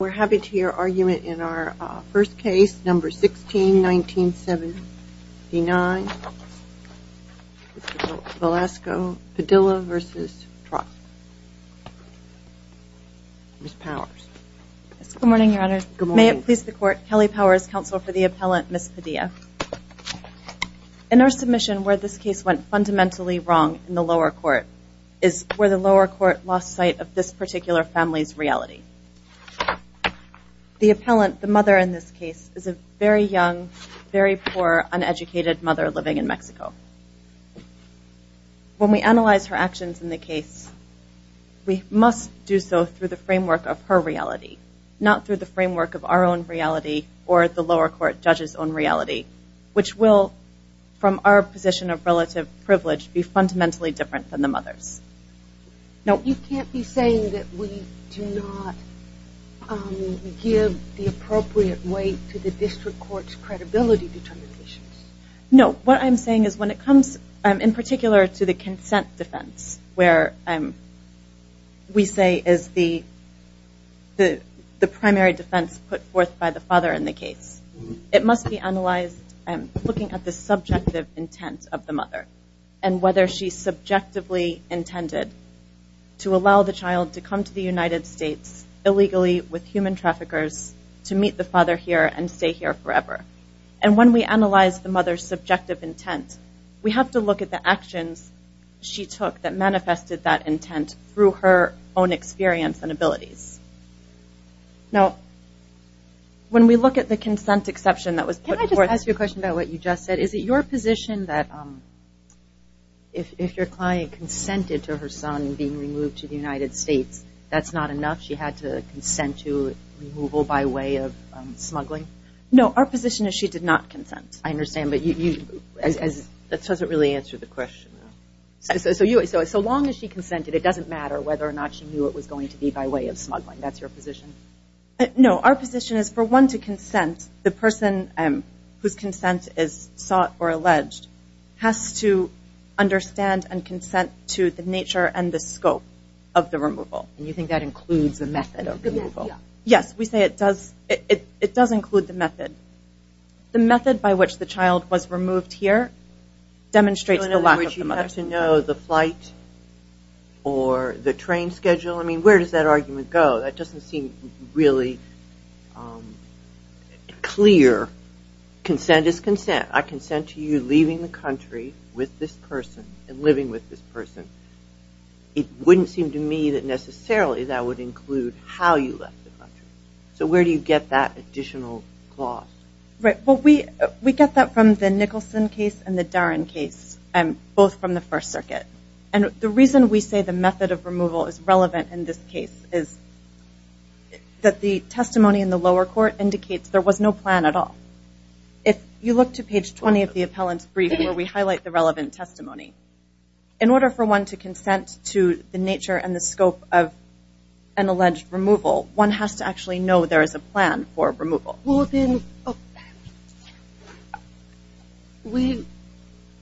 We're happy to hear argument in our first case, number 16-1979. Mr. Velasco Padilla v. Troxell. Ms. Powers. Good morning, Your Honor. Good morning. May it please the Court, Kelly Powers, Counsel for the Appellant, Ms. Padilla. In our submission, where this case went fundamentally wrong in the lower court is where the lower court lost sight of this particular family's reality. The appellant, the mother in this case, is a very young, very poor, uneducated mother living in Mexico. When we analyze her actions in the case, we must do so through the framework of her reality, not through the framework of our own reality or the lower court judge's own reality, which will, from our position of relative privilege, be fundamentally different than the mother's. No. You can't be saying that we do not give the appropriate weight to the district court's credibility determinations. No. What I'm saying is when it comes, in particular, to the consent defense, where we say is the looking at the subjective intent of the mother and whether she subjectively intended to allow the child to come to the United States illegally with human traffickers to meet the father here and stay here forever. When we analyze the mother's subjective intent, we have to look at the actions she took that Now, when we look at the consent exception that was put forth. Can I just ask you a question about what you just said? Is it your position that if your client consented to her son being removed to the United States, that's not enough? She had to consent to removal by way of smuggling? No, our position is she did not consent. I understand, but that doesn't really answer the question. So long as she consented, it doesn't matter whether or not she knew it was going to be by way of smuggling. That's your position? No, our position is for one to consent, the person whose consent is sought or alleged has to understand and consent to the nature and the scope of the removal. And you think that includes the method of removal? Yes. We say it does. It does include the method. I would like to know the flight or the train schedule. I mean, where does that argument go? That doesn't seem really clear. Consent is consent. I consent to you leaving the country with this person and living with this person. It wouldn't seem to me that necessarily that would include how you left the country. So where do you get that additional clause? We get that from the Nicholson case and the Darin case, both from the First Circuit. And the reason we say the method of removal is relevant in this case is that the testimony in the lower court indicates there was no plan at all. If you look to page 20 of the appellant's brief where we highlight the relevant testimony, in order for one to consent to the nature and the scope of an alleged removal, we do know, do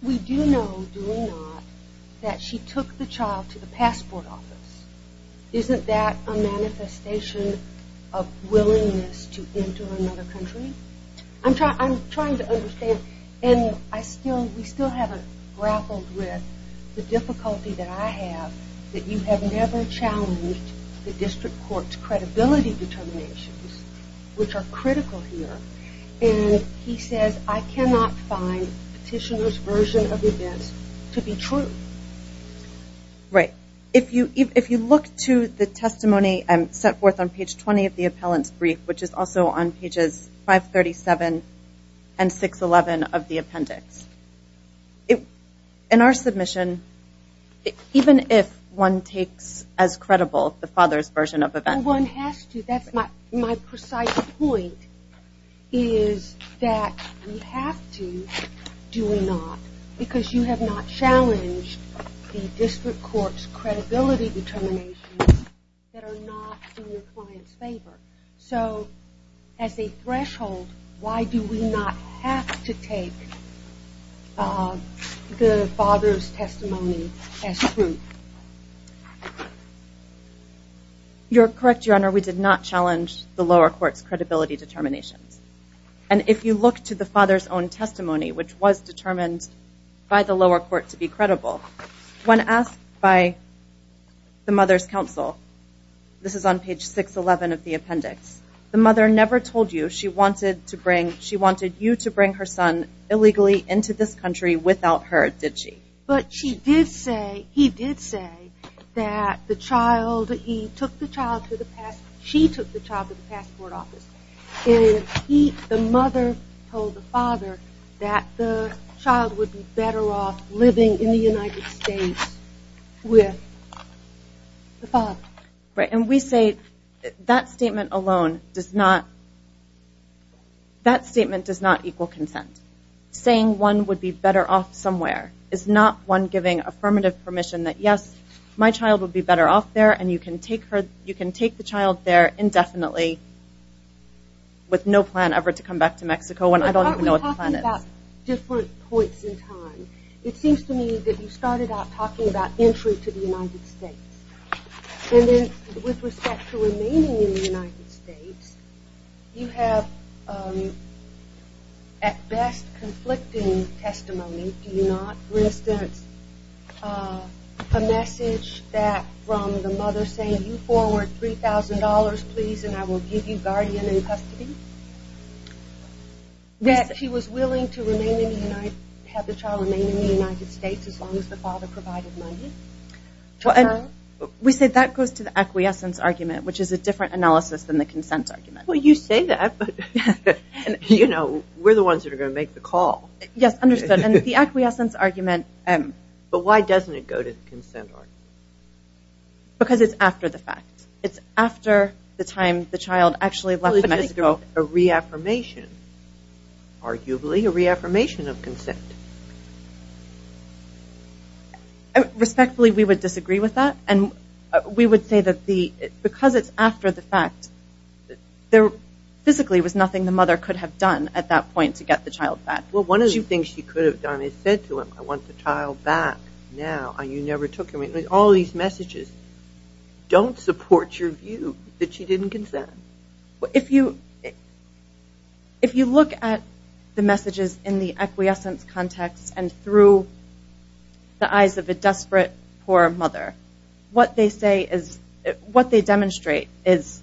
we not, that she took the child to the passport office. Isn't that a manifestation of willingness to enter another country? I'm trying to understand. And we still haven't grappled with the difficulty that I have that you have never challenged the district court's credibility determinations, which are critical here. And he says, I cannot find petitioner's version of events to be true. Right. If you look to the testimony set forth on page 20 of the appellant's brief, which is also on pages 537 and 611 of the appendix, in our submission, even if one takes as credible the father's version of events. Well, one has to. That's my precise point, is that you have to, do we not, because you have not challenged the district court's credibility determinations that are not in your client's favor. So, as a threshold, why do we not have to take the father's testimony as true? You're correct, Your Honor. We did not challenge the lower court's credibility determinations. And if you look to the father's own testimony, which was determined by the lower court to be credible, when asked by the mother's counsel, this is on page 611 of the appendix, the mother never told you she wanted you to bring her son illegally into this country without her, did she? But she did say, he did say, that the child, he took the child to the passport, she took the child to the passport office, and the mother told the father that the child would be better off living in the United States with the father. Right, and we say that statement alone does not, that statement does not equal consent. Saying one would be better off somewhere is not one giving affirmative permission that yes, my child would be better off there and you can take her, you can take the child there indefinitely with no plan ever to come back to Mexico when I don't even know what the plan is. It's about different points in time. It seems to me that you started out talking about entry to the United States and then with respect to remaining in the United States, you have at best conflicting testimony, do you not? For instance, a message that from the mother saying, you forward $3,000 please and I will give you guardian in custody? That she was willing to have the child remain in the United States as long as the father provided money? We say that goes to the acquiescence argument, which is a different analysis than the consent argument. Well, you say that, but we're the ones that are going to make the call. Yes, understood, and the acquiescence argument... But why doesn't it go to the consent argument? Because it's after the fact. It's after the time the child actually left Mexico. Well, it's a reaffirmation, arguably a reaffirmation of consent. Respectfully, we would disagree with that and we would say that because it's after the fact, there physically was nothing the mother could have done at that point to get the child back. Well, one of the things she could have done is said to him, I want the child back now and you never took him. All these messages don't support your view that she didn't consent. If you look at the messages in the acquiescence context and through the eyes of a desperate, poor mother, what they demonstrate is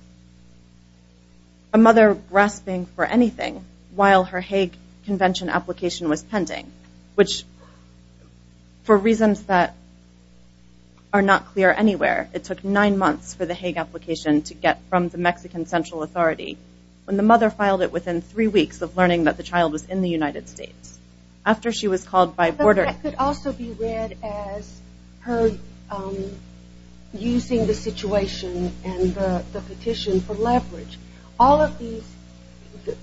a mother grasping for anything while her Hague Convention application was pending, which for reasons that are not clear anywhere, it took nine months for the Hague application to get from the Mexican Central Authority when the mother filed it within three weeks of learning that the child was in the United States. After she was called by border... But that could also be read as her using the situation and the petition for leverage. All of these,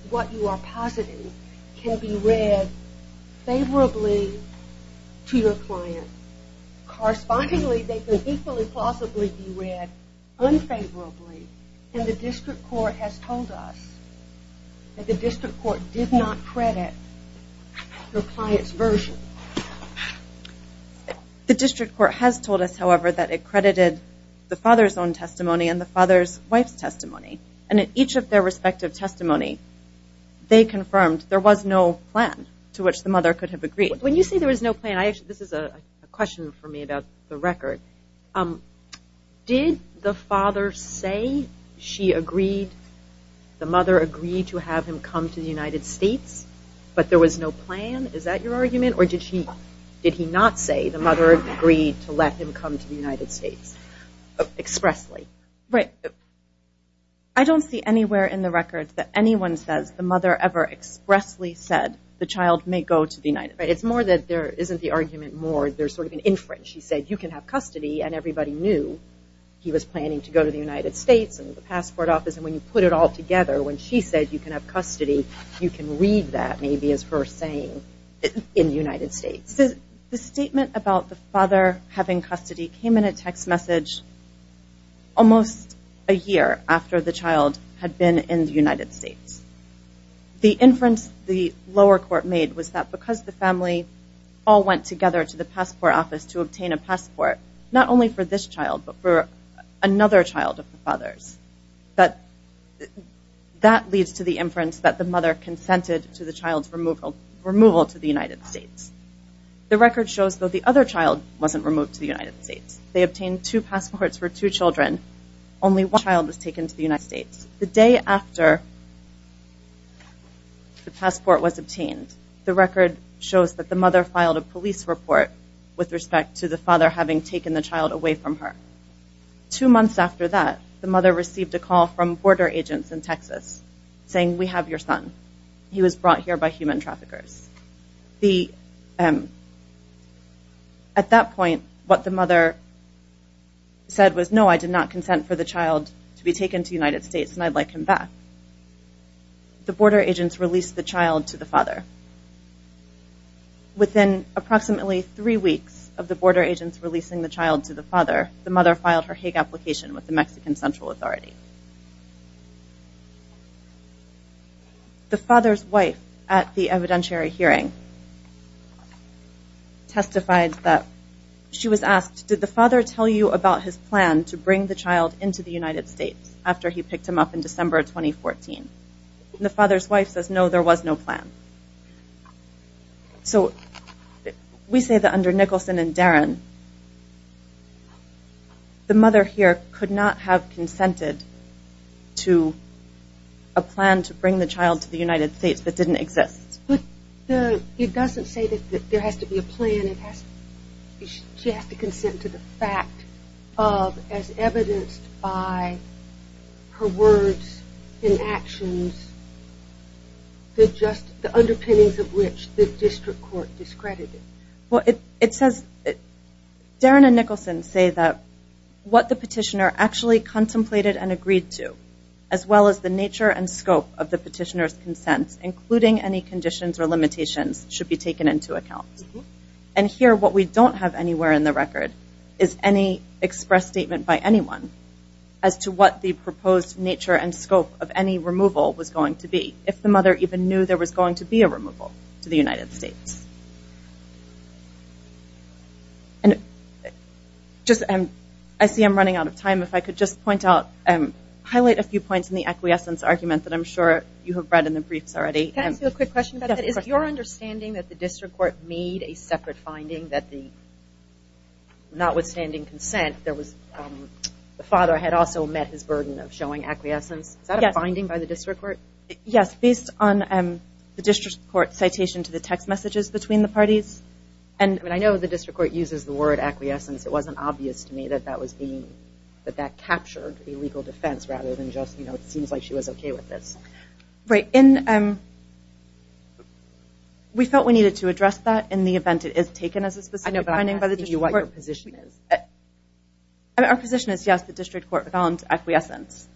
what you are positing, can be read favorably to your client. Correspondingly, they can equally plausibly be read unfavorably and the district court has told us that the district court did not credit your client's version. The district court has told us, however, that it credited the father's own testimony and the father's wife's testimony and in each of their respective testimony they confirmed there was no plan to which the mother could have agreed. When you say there was no plan, this is a question for me about the record. Did the father say she agreed, the mother agreed to have him come to the United States but there was no plan? Is that your argument? Or did he not say the mother agreed to let him come to the United States expressly? Right. I don't see anywhere in the record that anyone says the mother ever expressly said the child may go to the United States. It's more that there isn't the argument more there's sort of an inference. She said you can have custody and everybody knew he was planning to go to the United States and the passport office and when you put it all together when she said you can have custody you can read that maybe as her saying in the United States. The statement about the father having custody came in a text message almost a year after the child had been in the United States. The inference the lower court made was that because the family all went together to the passport office to obtain a passport not only for this child but for another child of the father's that leads to the inference that the mother consented to the child's removal to the United States. The record shows that the other child wasn't removed to the United States. They obtained two passports for two children only one child was taken to the United States. The day after the passport was obtained the record shows that the mother filed a police report with respect to the father having taken the child away from her. Two months after that the mother received a call from border agents in Texas saying we have your son. He was brought here by human traffickers. At that point what the mother said was no I did not consent for the child to be taken to the United States and I'd like him back. The border agents released the child to the father. Within approximately three weeks of the border agents releasing the child to the father the mother filed her Hague application with the Mexican Central Authority. The father's wife at the evidentiary hearing testified that she was asked did the father tell you about his plan to bring the child into the United States after he picked him up in December 2014. The father's wife says no there was no plan. So the mother here could not have consented to the child's removal to a plan to bring the child to the United States that didn't exist. It doesn't say that there has to be a plan it has to she has to consent to the fact of as evidenced by her words and actions the underpinnings of which the district court discredited. Darren and Nicholson say that what the petitioner actually contemplated and agreed to as well as the nature and scope of the petitioner's consent including any conditions or limitations should be taken into account. And here what we don't have anywhere in the record is any expressed statement by anyone as to what the proposed nature and scope of any removal was going to be if the mother even knew there was going to be a removal to the United States. And just I see I'm running out of time if I could just point out highlight a few points in the acquiescence argument that I'm sure you have read in the briefs already. Can I ask you a quick question? Is it your understanding that the district court made a separate finding that the notwithstanding consent there was the father had also met his burden of showing acquiescence is that a finding by the district court? Yes, based on the district court citation to the text messages between the parties I know the district court uses the word acquiescence. It wasn't obvious to me that that captured a legal defense rather than just it seems like she was okay with this. Right. We felt we needed to address that in the event it is taken as a specific finding by the district court. Our position is yes the district court found acquiescence.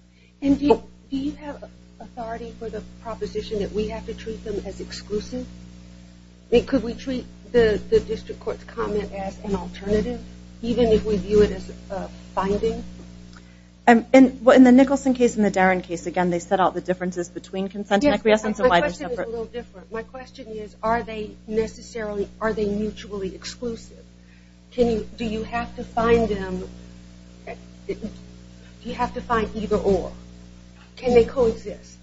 Do you have authority for the proposition that we have to treat them as exclusive? Could we treat the district court's comment as an alternative? Even if we view it as a finding? In the Nicholson case and the Darin case again they set out the differences between consent and acquiescence. My question is are they mutually exclusive? Do you have to find them do you have to find either or? Can they coexist?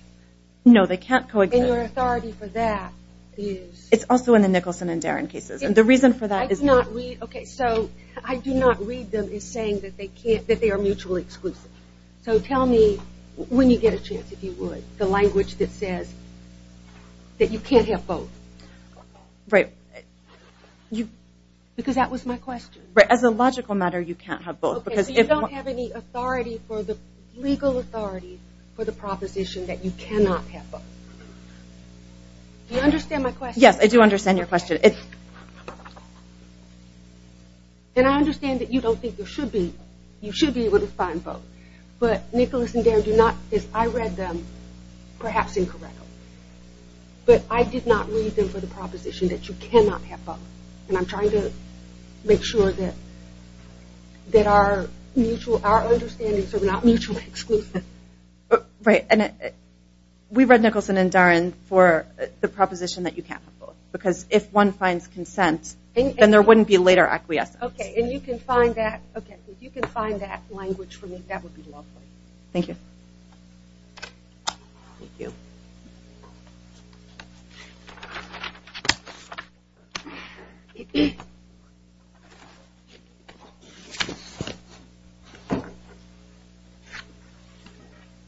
No they can't coexist. It's also in the Nicholson and Darin cases. The reason for that is I do not read them as saying that they are mutually exclusive. Tell me when you get a chance if you would the language that says that you can't have both. Right. Because that was my question. As a logical matter you can't have both. So you don't have any authority legal authority for the proposition that you cannot have both. Do you understand my question? Yes I do understand your question. And I understand that you don't think you should be able to find both. But Nicholson and Darin I read them perhaps incorrectly but I did not read them for the proposition that you cannot have both. And I'm trying to make sure that that our mutual, our understandings are not mutually exclusive. We read Nicholson and Darin for the proposition that you can't have both. Because if one finds consent then there wouldn't be later acquiescence. If you can find that language for me that would be lovely. Thank you. Good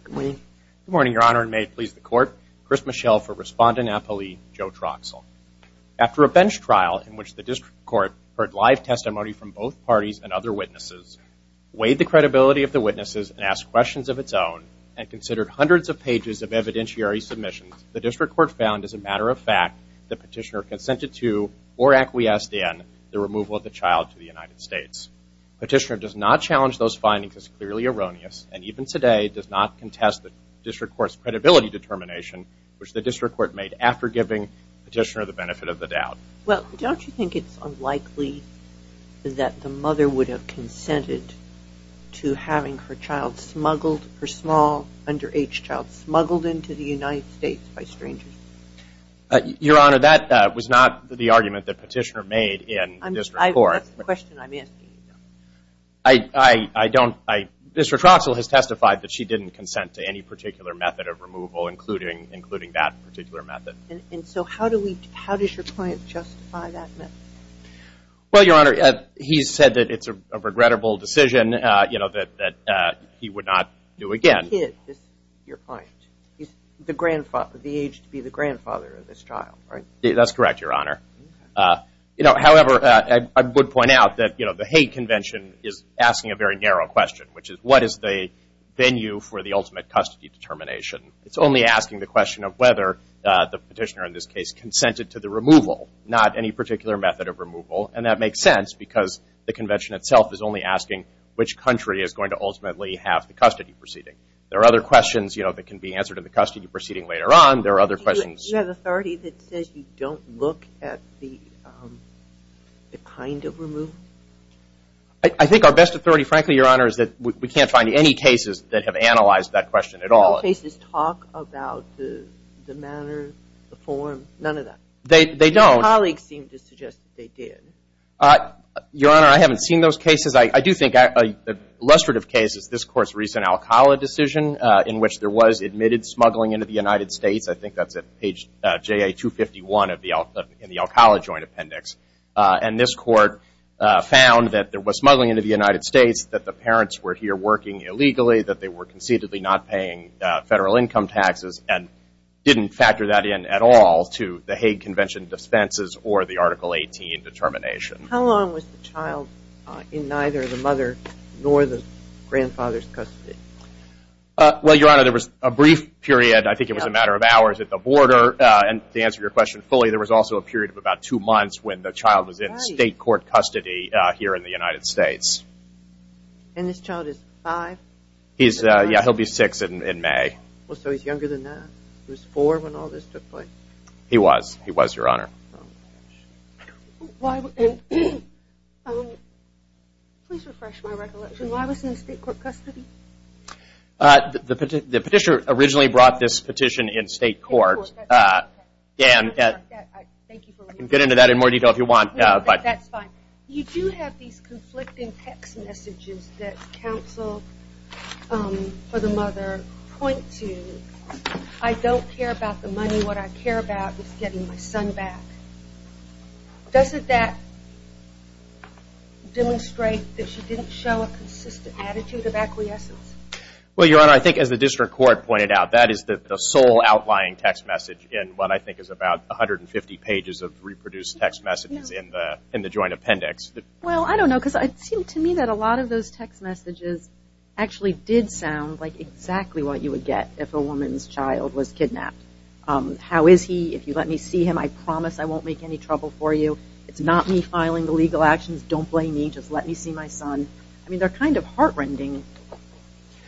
morning. Good morning Your Honor. And may it please the Court. Chris Mischel for Respondent Appellee Joe Troxell. After a bench trial in which the District Court heard live testimony from both parties and other witnesses weighed the credibility of the witnesses and asked questions of its own and considered hundreds of pages of evidentiary submissions, the District Court found as a matter of fact that Petitioner consented to or acquiesced in the removal of the child to the United States. Petitioner does not challenge those findings as clearly erroneous and even today does not contest the District Court's credibility determination which the District Court made after giving Petitioner the benefit of the doubt. Well, don't you think it's unlikely that the mother would have consented to having her child smuggled, her small underage child smuggled into the United States by strangers? Your Honor, that was not the argument that Petitioner made in the District Court. I don't Mr. Troxell has testified that she didn't consent to any particular method of removal including that particular method. How does your client justify that? Well, Your Honor he said that it's a regrettable decision that he would not do again. Your client? The age to be the grandfather of this child. That's correct, Your Honor. However, I would point out that the hate convention is asking a very narrow question which is what is the venue for the ultimate custody determination? It's only asking the question of whether the Petitioner in this case consented to the removal, not any particular method of removal and that makes sense because the convention itself is only asking which country is going to ultimately have the custody proceeding. There are other questions that can be answered in the custody proceeding later on. There are other questions. You have authority that says you don't look at the kind of removal? I think our best authority, frankly, Your Honor, is that we can't find any cases that have analyzed that question at all. No cases talk about the manner, the form, none of that? They don't. Colleagues seem to suggest that they did. Your Honor, I haven't seen those cases. I do think a illustrative case is this Court's recent Alcala decision in which there was admitted smuggling into the United States. I think that's at page JA 251 in the Alcala Joint Appendix and this Court found that there was smuggling into the United States, that the parents were here working illegally, that they were conceitedly not paying federal income taxes and didn't factor that in at all to the Hague Convention dispenses or the Article 18 determination. How long was the child in neither the mother nor the Well, Your Honor, there was a brief period, I think it was a matter of hours at the border and to answer your question fully, there was also a period of about two months when the child was in state court custody here in the United States. And this child is five? Yeah, he'll be six in May. So he's younger than that? He was four when all this took place? He was, Your Honor. Please refresh my recollection. Why was he in state court custody? The petitioner originally brought this petition in state court. I can get into that in more detail if you want. That's fine. You do have these conflicting text messages that counsel for the mother point to. I don't care about the money, what I care about is getting my son back. Doesn't that demonstrate that she didn't show a consistent attitude of acquiescence? Well, Your Honor, I think as the district court pointed out, that is the sole outlying text message in what I think is about 150 pages of reproduced text messages in the joint appendix. Well, I don't know because it seemed to me that a lot of those text messages actually did sound like exactly what you would get if a woman's child was kidnapped. How is he? If you let me see him, I promise I won't make any trouble for you. It's not me filing the legal actions. Don't blame me. Just let me see my son. I mean, they're kind of heart-rending.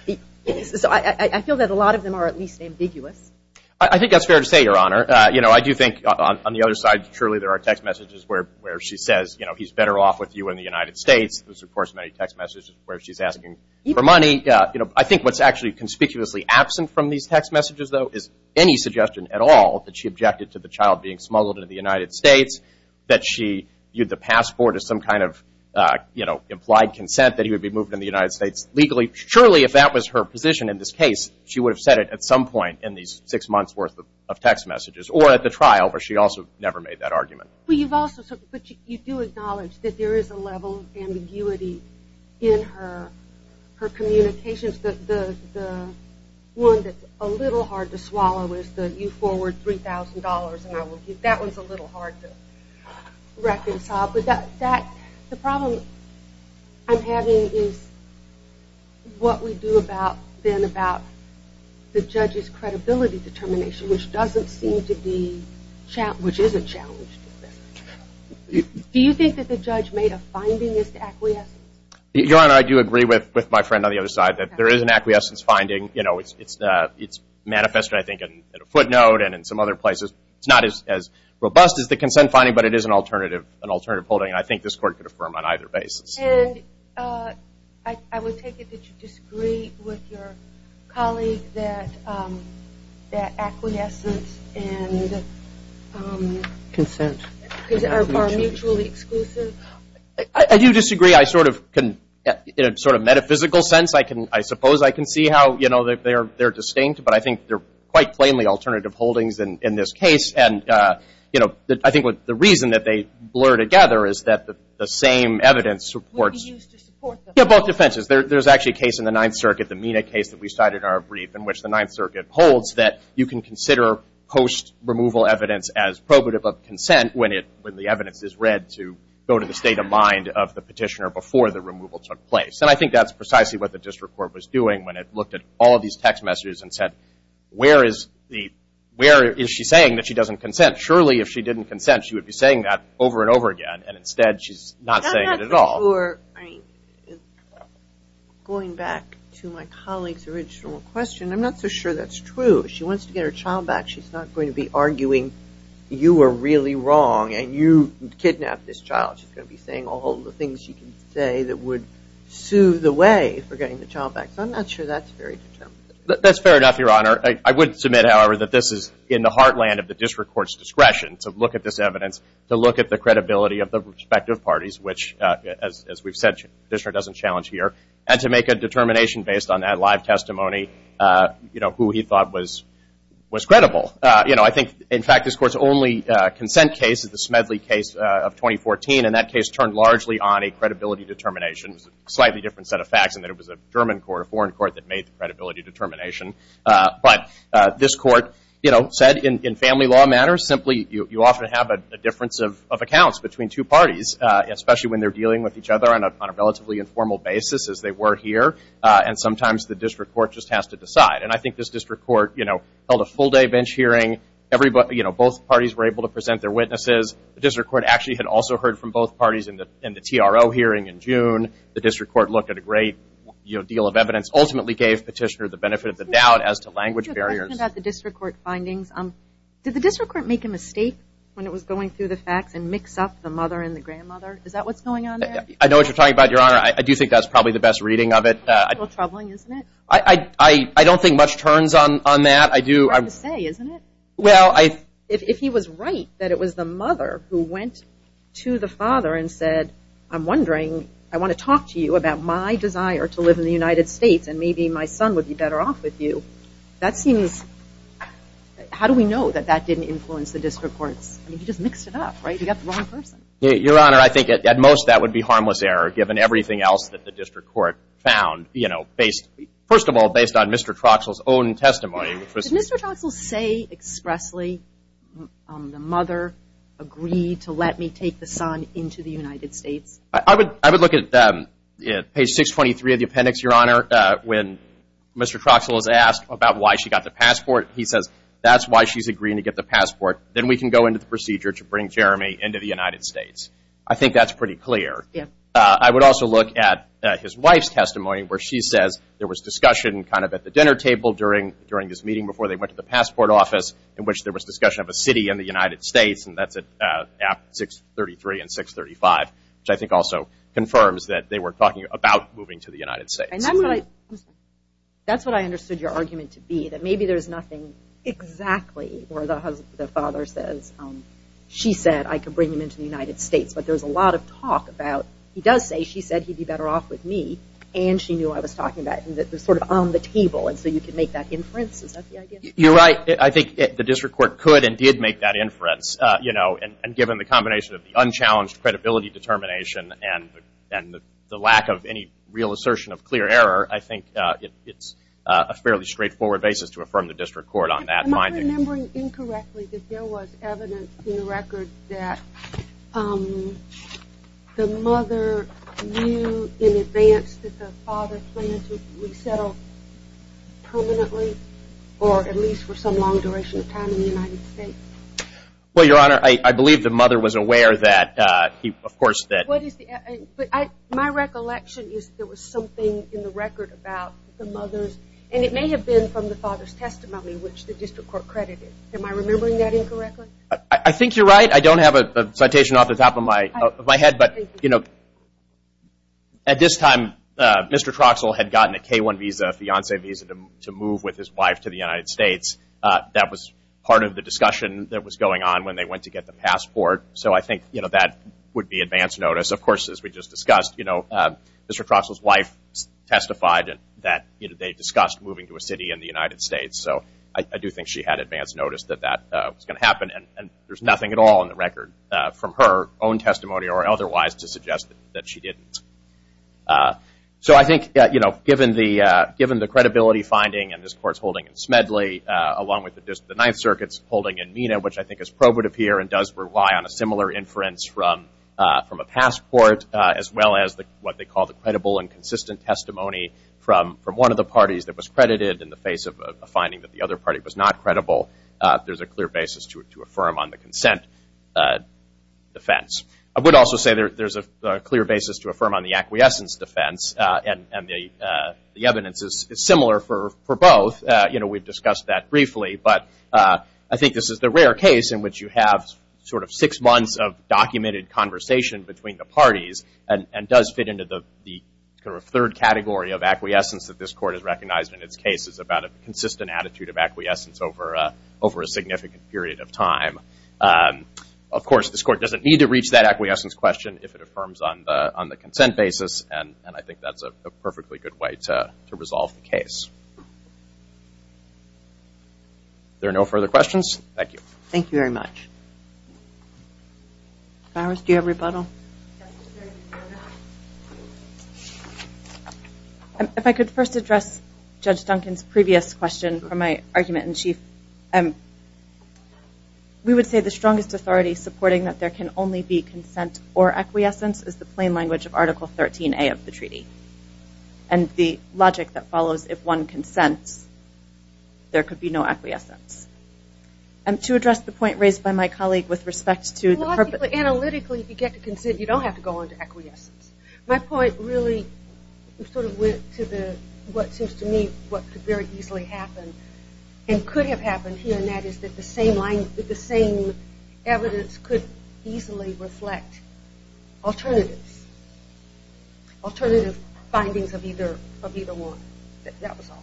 I feel that a lot of them are at least ambiguous. I think that's fair to say, Your Honor. I do think on the other side, surely there are text messages where she says he's better off with you in the United States. There's of course many text messages where she's asking for money. I think what's actually conspicuously absent from these text messages, though, is any suggestion at all that she objected to the child being smuggled into the United States, that she used the passport as some kind of implied consent that he would be moved in the United States legally. Surely, if that was her position in this case, she would have said it at some point in these six months' worth of text messages. Or at the trial, where she also never made that argument. But you do acknowledge that there is a level of ambiguity in her communications. The one that's a little hard to swallow is the you forward $3,000. That one's a little hard to reconcile. The problem I'm having is what we do about the judge's credibility determination, which doesn't seem to be, which is a challenge. Do you think that the judge made a findingist acquiescence? I do agree with my friend on the other side that there is an acquiescence finding. It's manifested, I think, in a footnote and in some other places. It's not as robust as the consent finding, but it is an alternative holding. I think this court could affirm on either basis. I would take it that you disagree with your colleague that acquiescence and consent are mutually exclusive. I do disagree. In a metaphysical sense, I suppose I can see how they're distinct, but I think they're quite plainly alternative holdings in this case. I think the reason that they blur together is that the same evidence supports both defenses. There's actually a case in the Ninth Circuit, the MENA case that we cited in our brief, in which the Ninth Circuit holds that you can consider post-removal evidence as probative of consent when the evidence is read to go to the state of mind of the petitioner before the removal took place. I think that's precisely what the district court was doing when it looked at all these text messages and said, where is she saying that she doesn't consent? Surely, if she didn't consent, she would be saying that over and over again. Instead, she's not saying it at all. I'm not so sure. Going back to my colleague's original question, I'm not so sure that's true. If she wants to get her child back, she's not going to be arguing you were really wrong, and you kidnapped this child. She's going to be saying all the things she can say that would sue the way for getting the child back. I'm not sure that's very determined. That's fair enough, Your Honor. I would submit, however, that this is in the heartland of the district court's discretion to look at this evidence, to look at the credibility of the respective parties, which as we've said, the district doesn't challenge here, and to make a determination based on that live testimony, who he thought was credible. I think, in fact, this court's only consent case is the Smedley case of 2014, and that case turned largely on a credibility determination. It was a slightly different set of facts in that it was a German court, a foreign court, that made the credibility determination. But this court said, in family law matters, simply you often have a difference of accounts between two parties, especially when they're dealing with each other on a relatively informal basis as they were here, and sometimes the district court just has to decide. And I think this district court held a full-day bench hearing. Both parties were able to present their witnesses. The district court actually had also heard from both parties in the TRO hearing in June. The district court looked at a great deal of evidence, ultimately gave Petitioner the benefit of the doubt as to language barriers. I have a question about the district court findings. Did the district court make a mistake when it was going through the facts and mix up the mother and the grandmother? Is that what's going on there? I know what you're talking about, Your Honor. I do think that's probably the best reading of it. A little troubling, isn't it? I don't think much turns on that. Hard to say, isn't it? Well, I... If he was right that it was the mother who went to the father and said, I'm wondering, I want to talk to you about my desire to live in the United States, and maybe my son would be better off with you, that seems... How do we know that that didn't influence the district court's... I mean, he just mixed it up, right? He got the wrong person. Your Honor, I think at most that would be harmless error given everything else that the district court found, you know, based... First of all, based on Mr. Troxell's own testimony, which was... Did Mr. Troxell say expressly, the mother agreed to let me take the son into the United States? I would look at page 623 of the appendix, Your Honor, when Mr. Troxell is asked about why she got the passport. He says, that's why she's agreeing to get the passport. Then we can go into the procedure to bring Jeremy into the United States. I think that's pretty clear. I would also look at his wife's testimony where she says there was discussion kind of at the dinner table during this meeting before they went to the passport office in which there was discussion of a city in the United States, and that's at 633 and 635, which I think also confirms that they were talking about moving to the United States. That's what I understood your argument to be, that maybe there's nothing exactly where the father says, she said I could bring him into the United States, but there's a lot of talk about... He does say she said he'd be better off with me, and she knew what I was talking about. And that was sort of on the table, and so you could make that inference. Is that the idea? You're right. I think the district court could indeed make that inference. And given the combination of the unchallenged credibility determination and the lack of any real assertion of clear error, I think it's a fairly straightforward basis to affirm the district court on that. Am I remembering incorrectly that there was evidence in the record that the mother knew in advance that the father planned to resettle permanently, or at least for some long duration of time in the United States? Well, Your Honor, I believe the mother was aware that he, of course, that... My recollection is there was something in the record about the mother's, and it may have been from the father's testimony, which the district court credited. Am I remembering that incorrectly? I think you're right. I don't have a citation off the top of my head, but you know, at this time, Mr. Troxell had gotten a K-1 visa, a fiance visa, to move with his wife to the United States. That was part of the discussion that was going on when they went to get the passport, so I think that would be advance notice. Of course, as we just discussed, Mr. Troxell's wife testified that they discussed moving to a city in the United States, so I do think she had advance notice that that was going to happen, and there's nothing at all in the record from her own testimony or otherwise to suggest that she didn't. So I think, you know, given the credibility finding, and this Court's holding in Smedley, along with the Ninth Circuit's holding in Mena, which I think is probative here and does rely on a similar inference from a passport, as well as what they call the credible and consistent testimony from one of the parties that was credited in the face of a finding that the other party was not credible, there's a clear basis to defense. I would also say there's a clear basis to affirm on the acquiescence defense, and the evidence is similar for both. You know, we've discussed that briefly, but I think this is the rare case in which you have sort of six months of documented conversation between the parties and does fit into the third category of acquiescence that this Court has recognized in its cases about a consistent attitude of acquiescence over a significant period of time. Of course, this Court doesn't need to reach that acquiescence question if it affirms on the consent basis, and I think that's a perfectly good way to resolve the case. If there are no further questions, thank you. Thank you very much. Flowers, do you have rebuttal? If I could first address Judge Duncan's previous question for my argument in chief. We would say the strongest authority supporting that there can only be consent or acquiescence is the plain language of Article 13A of the treaty, and the logic that follows, if one consents, there could be no acquiescence. To address the point raised by my colleague with respect to... Logically, analytically, if you get to consent, you don't have to go into acquiescence. My point really sort of went to the, what seems to me, what could very easily happen and could have happened here, and that is that the same evidence could easily reflect alternatives. Alternative findings of either one. That was all.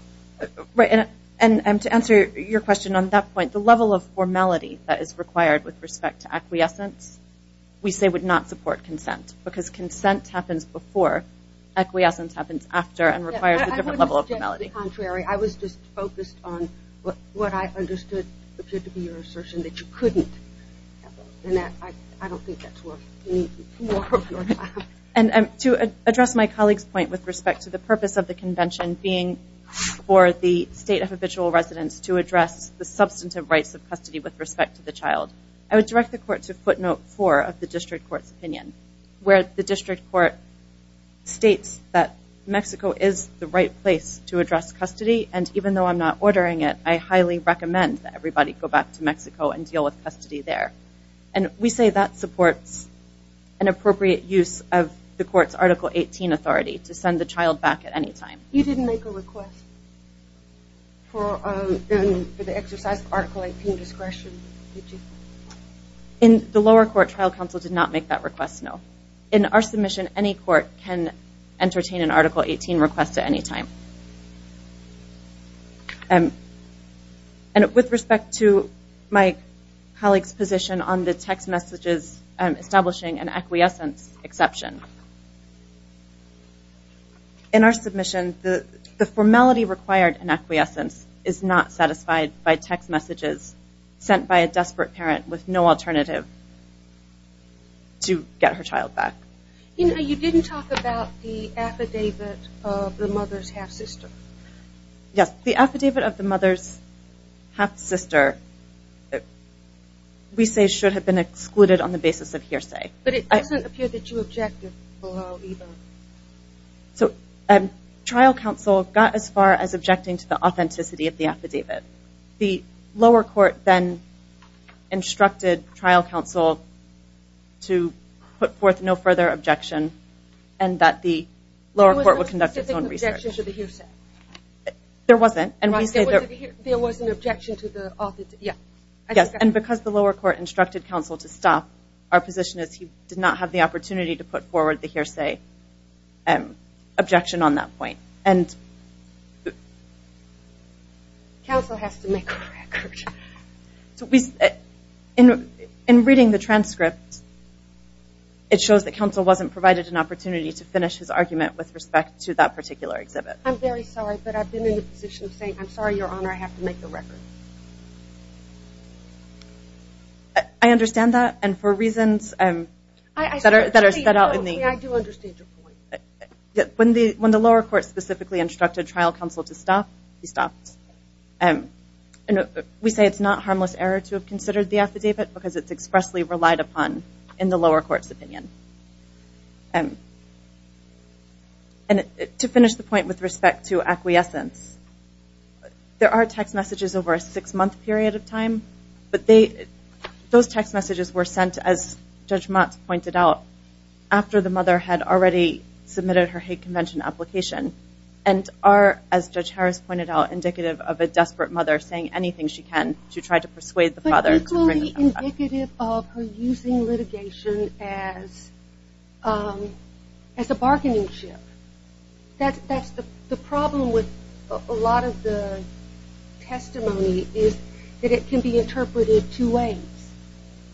Right, and to answer your question on that point, the level of formality that is required with respect to acquiescence, we say would not support consent, because consent happens before, acquiescence happens after, and requires a different level of formality. On the contrary, I was just focused on what I understood appeared to be your assertion, that you couldn't have that, and I don't think that's worth me more of your time. And to address my colleague's point with respect to the purpose of the convention being for the state of habitual residence to address the substantive rights of custody with respect to the child, I would direct the court to footnote four of the district court's opinion, where the district court states that custody, and even though I'm not ordering it, I highly recommend that everybody go back to Mexico and deal with custody there. And we say that supports an appropriate use of the court's Article 18 authority to send the child back at any time. You didn't make a request for the exercise of Article 18 discretion, did you? In the lower court, trial counsel did not make that request, no. In our submission, any court can entertain an Article 18 request at any time. And with respect to my colleague's position on the text messages establishing an acquiescence exception, in our submission, the formality required in acquiescence is not satisfied by text messages sent by a desperate parent with no alternative to get her child back. You know, you didn't talk about the affidavit of the mother's half-sister. Yes, the affidavit of the mother's half-sister we say should have been excluded on the basis of hearsay. But it doesn't appear that you objected below either. So, trial counsel got as far as objecting to the authenticity of the affidavit. The lower court then instructed trial counsel to put forth no further objection and that the lower court would conduct its own research. There wasn't. And because the lower court instructed counsel to stop, our position is he did not have the opportunity to put forward the hearsay objection on that point. Counsel has to make a record. In reading the transcript, it shows that counsel wasn't provided an opportunity to finish his argument with respect to that particular exhibit. I'm very sorry, but I've been in a position of saying, I'm sorry, Your Honor, I have to make the record. I understand that, and for reasons that are set out in the... I do understand your point. When the lower court specifically instructed trial counsel to stop, he stopped. We say it's not harmless error to have considered the affidavit because it's expressly relied upon in the lower court's opinion. To finish the point with respect to acquiescence, there are text messages over a six-month period of time, but those text messages were sent, as Judge Motz pointed out, after the mother had already submitted her hate convention application and are, as Judge Harris pointed out, indicative of a desperate mother saying anything she can to try to persuade the father... But equally indicative of her using litigation as a bargaining chip. The problem with a lot of the testimony is that it can be interpreted two ways,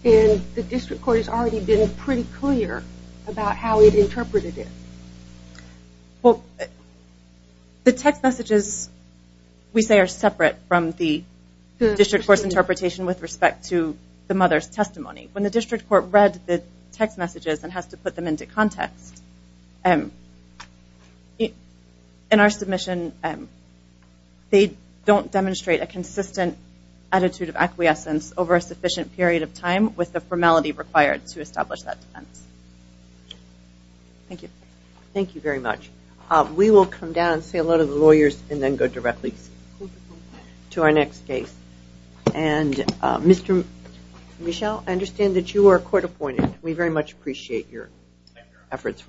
and the district court has already been pretty clear about how it interpreted it. Well, the text messages, we say, are separate from the district court's interpretation with respect to the mother's testimony. When the district court read the text messages and has to put them into context, in our submission, they don't demonstrate a consistent attitude of acquiescence over a sufficient period of time with the formality required to establish that defense. Thank you. Thank you very much. We will come down and see a lot of the testimony to our next case. And, Mr. Michel, I understand that you are court appointed. We very much appreciate your efforts.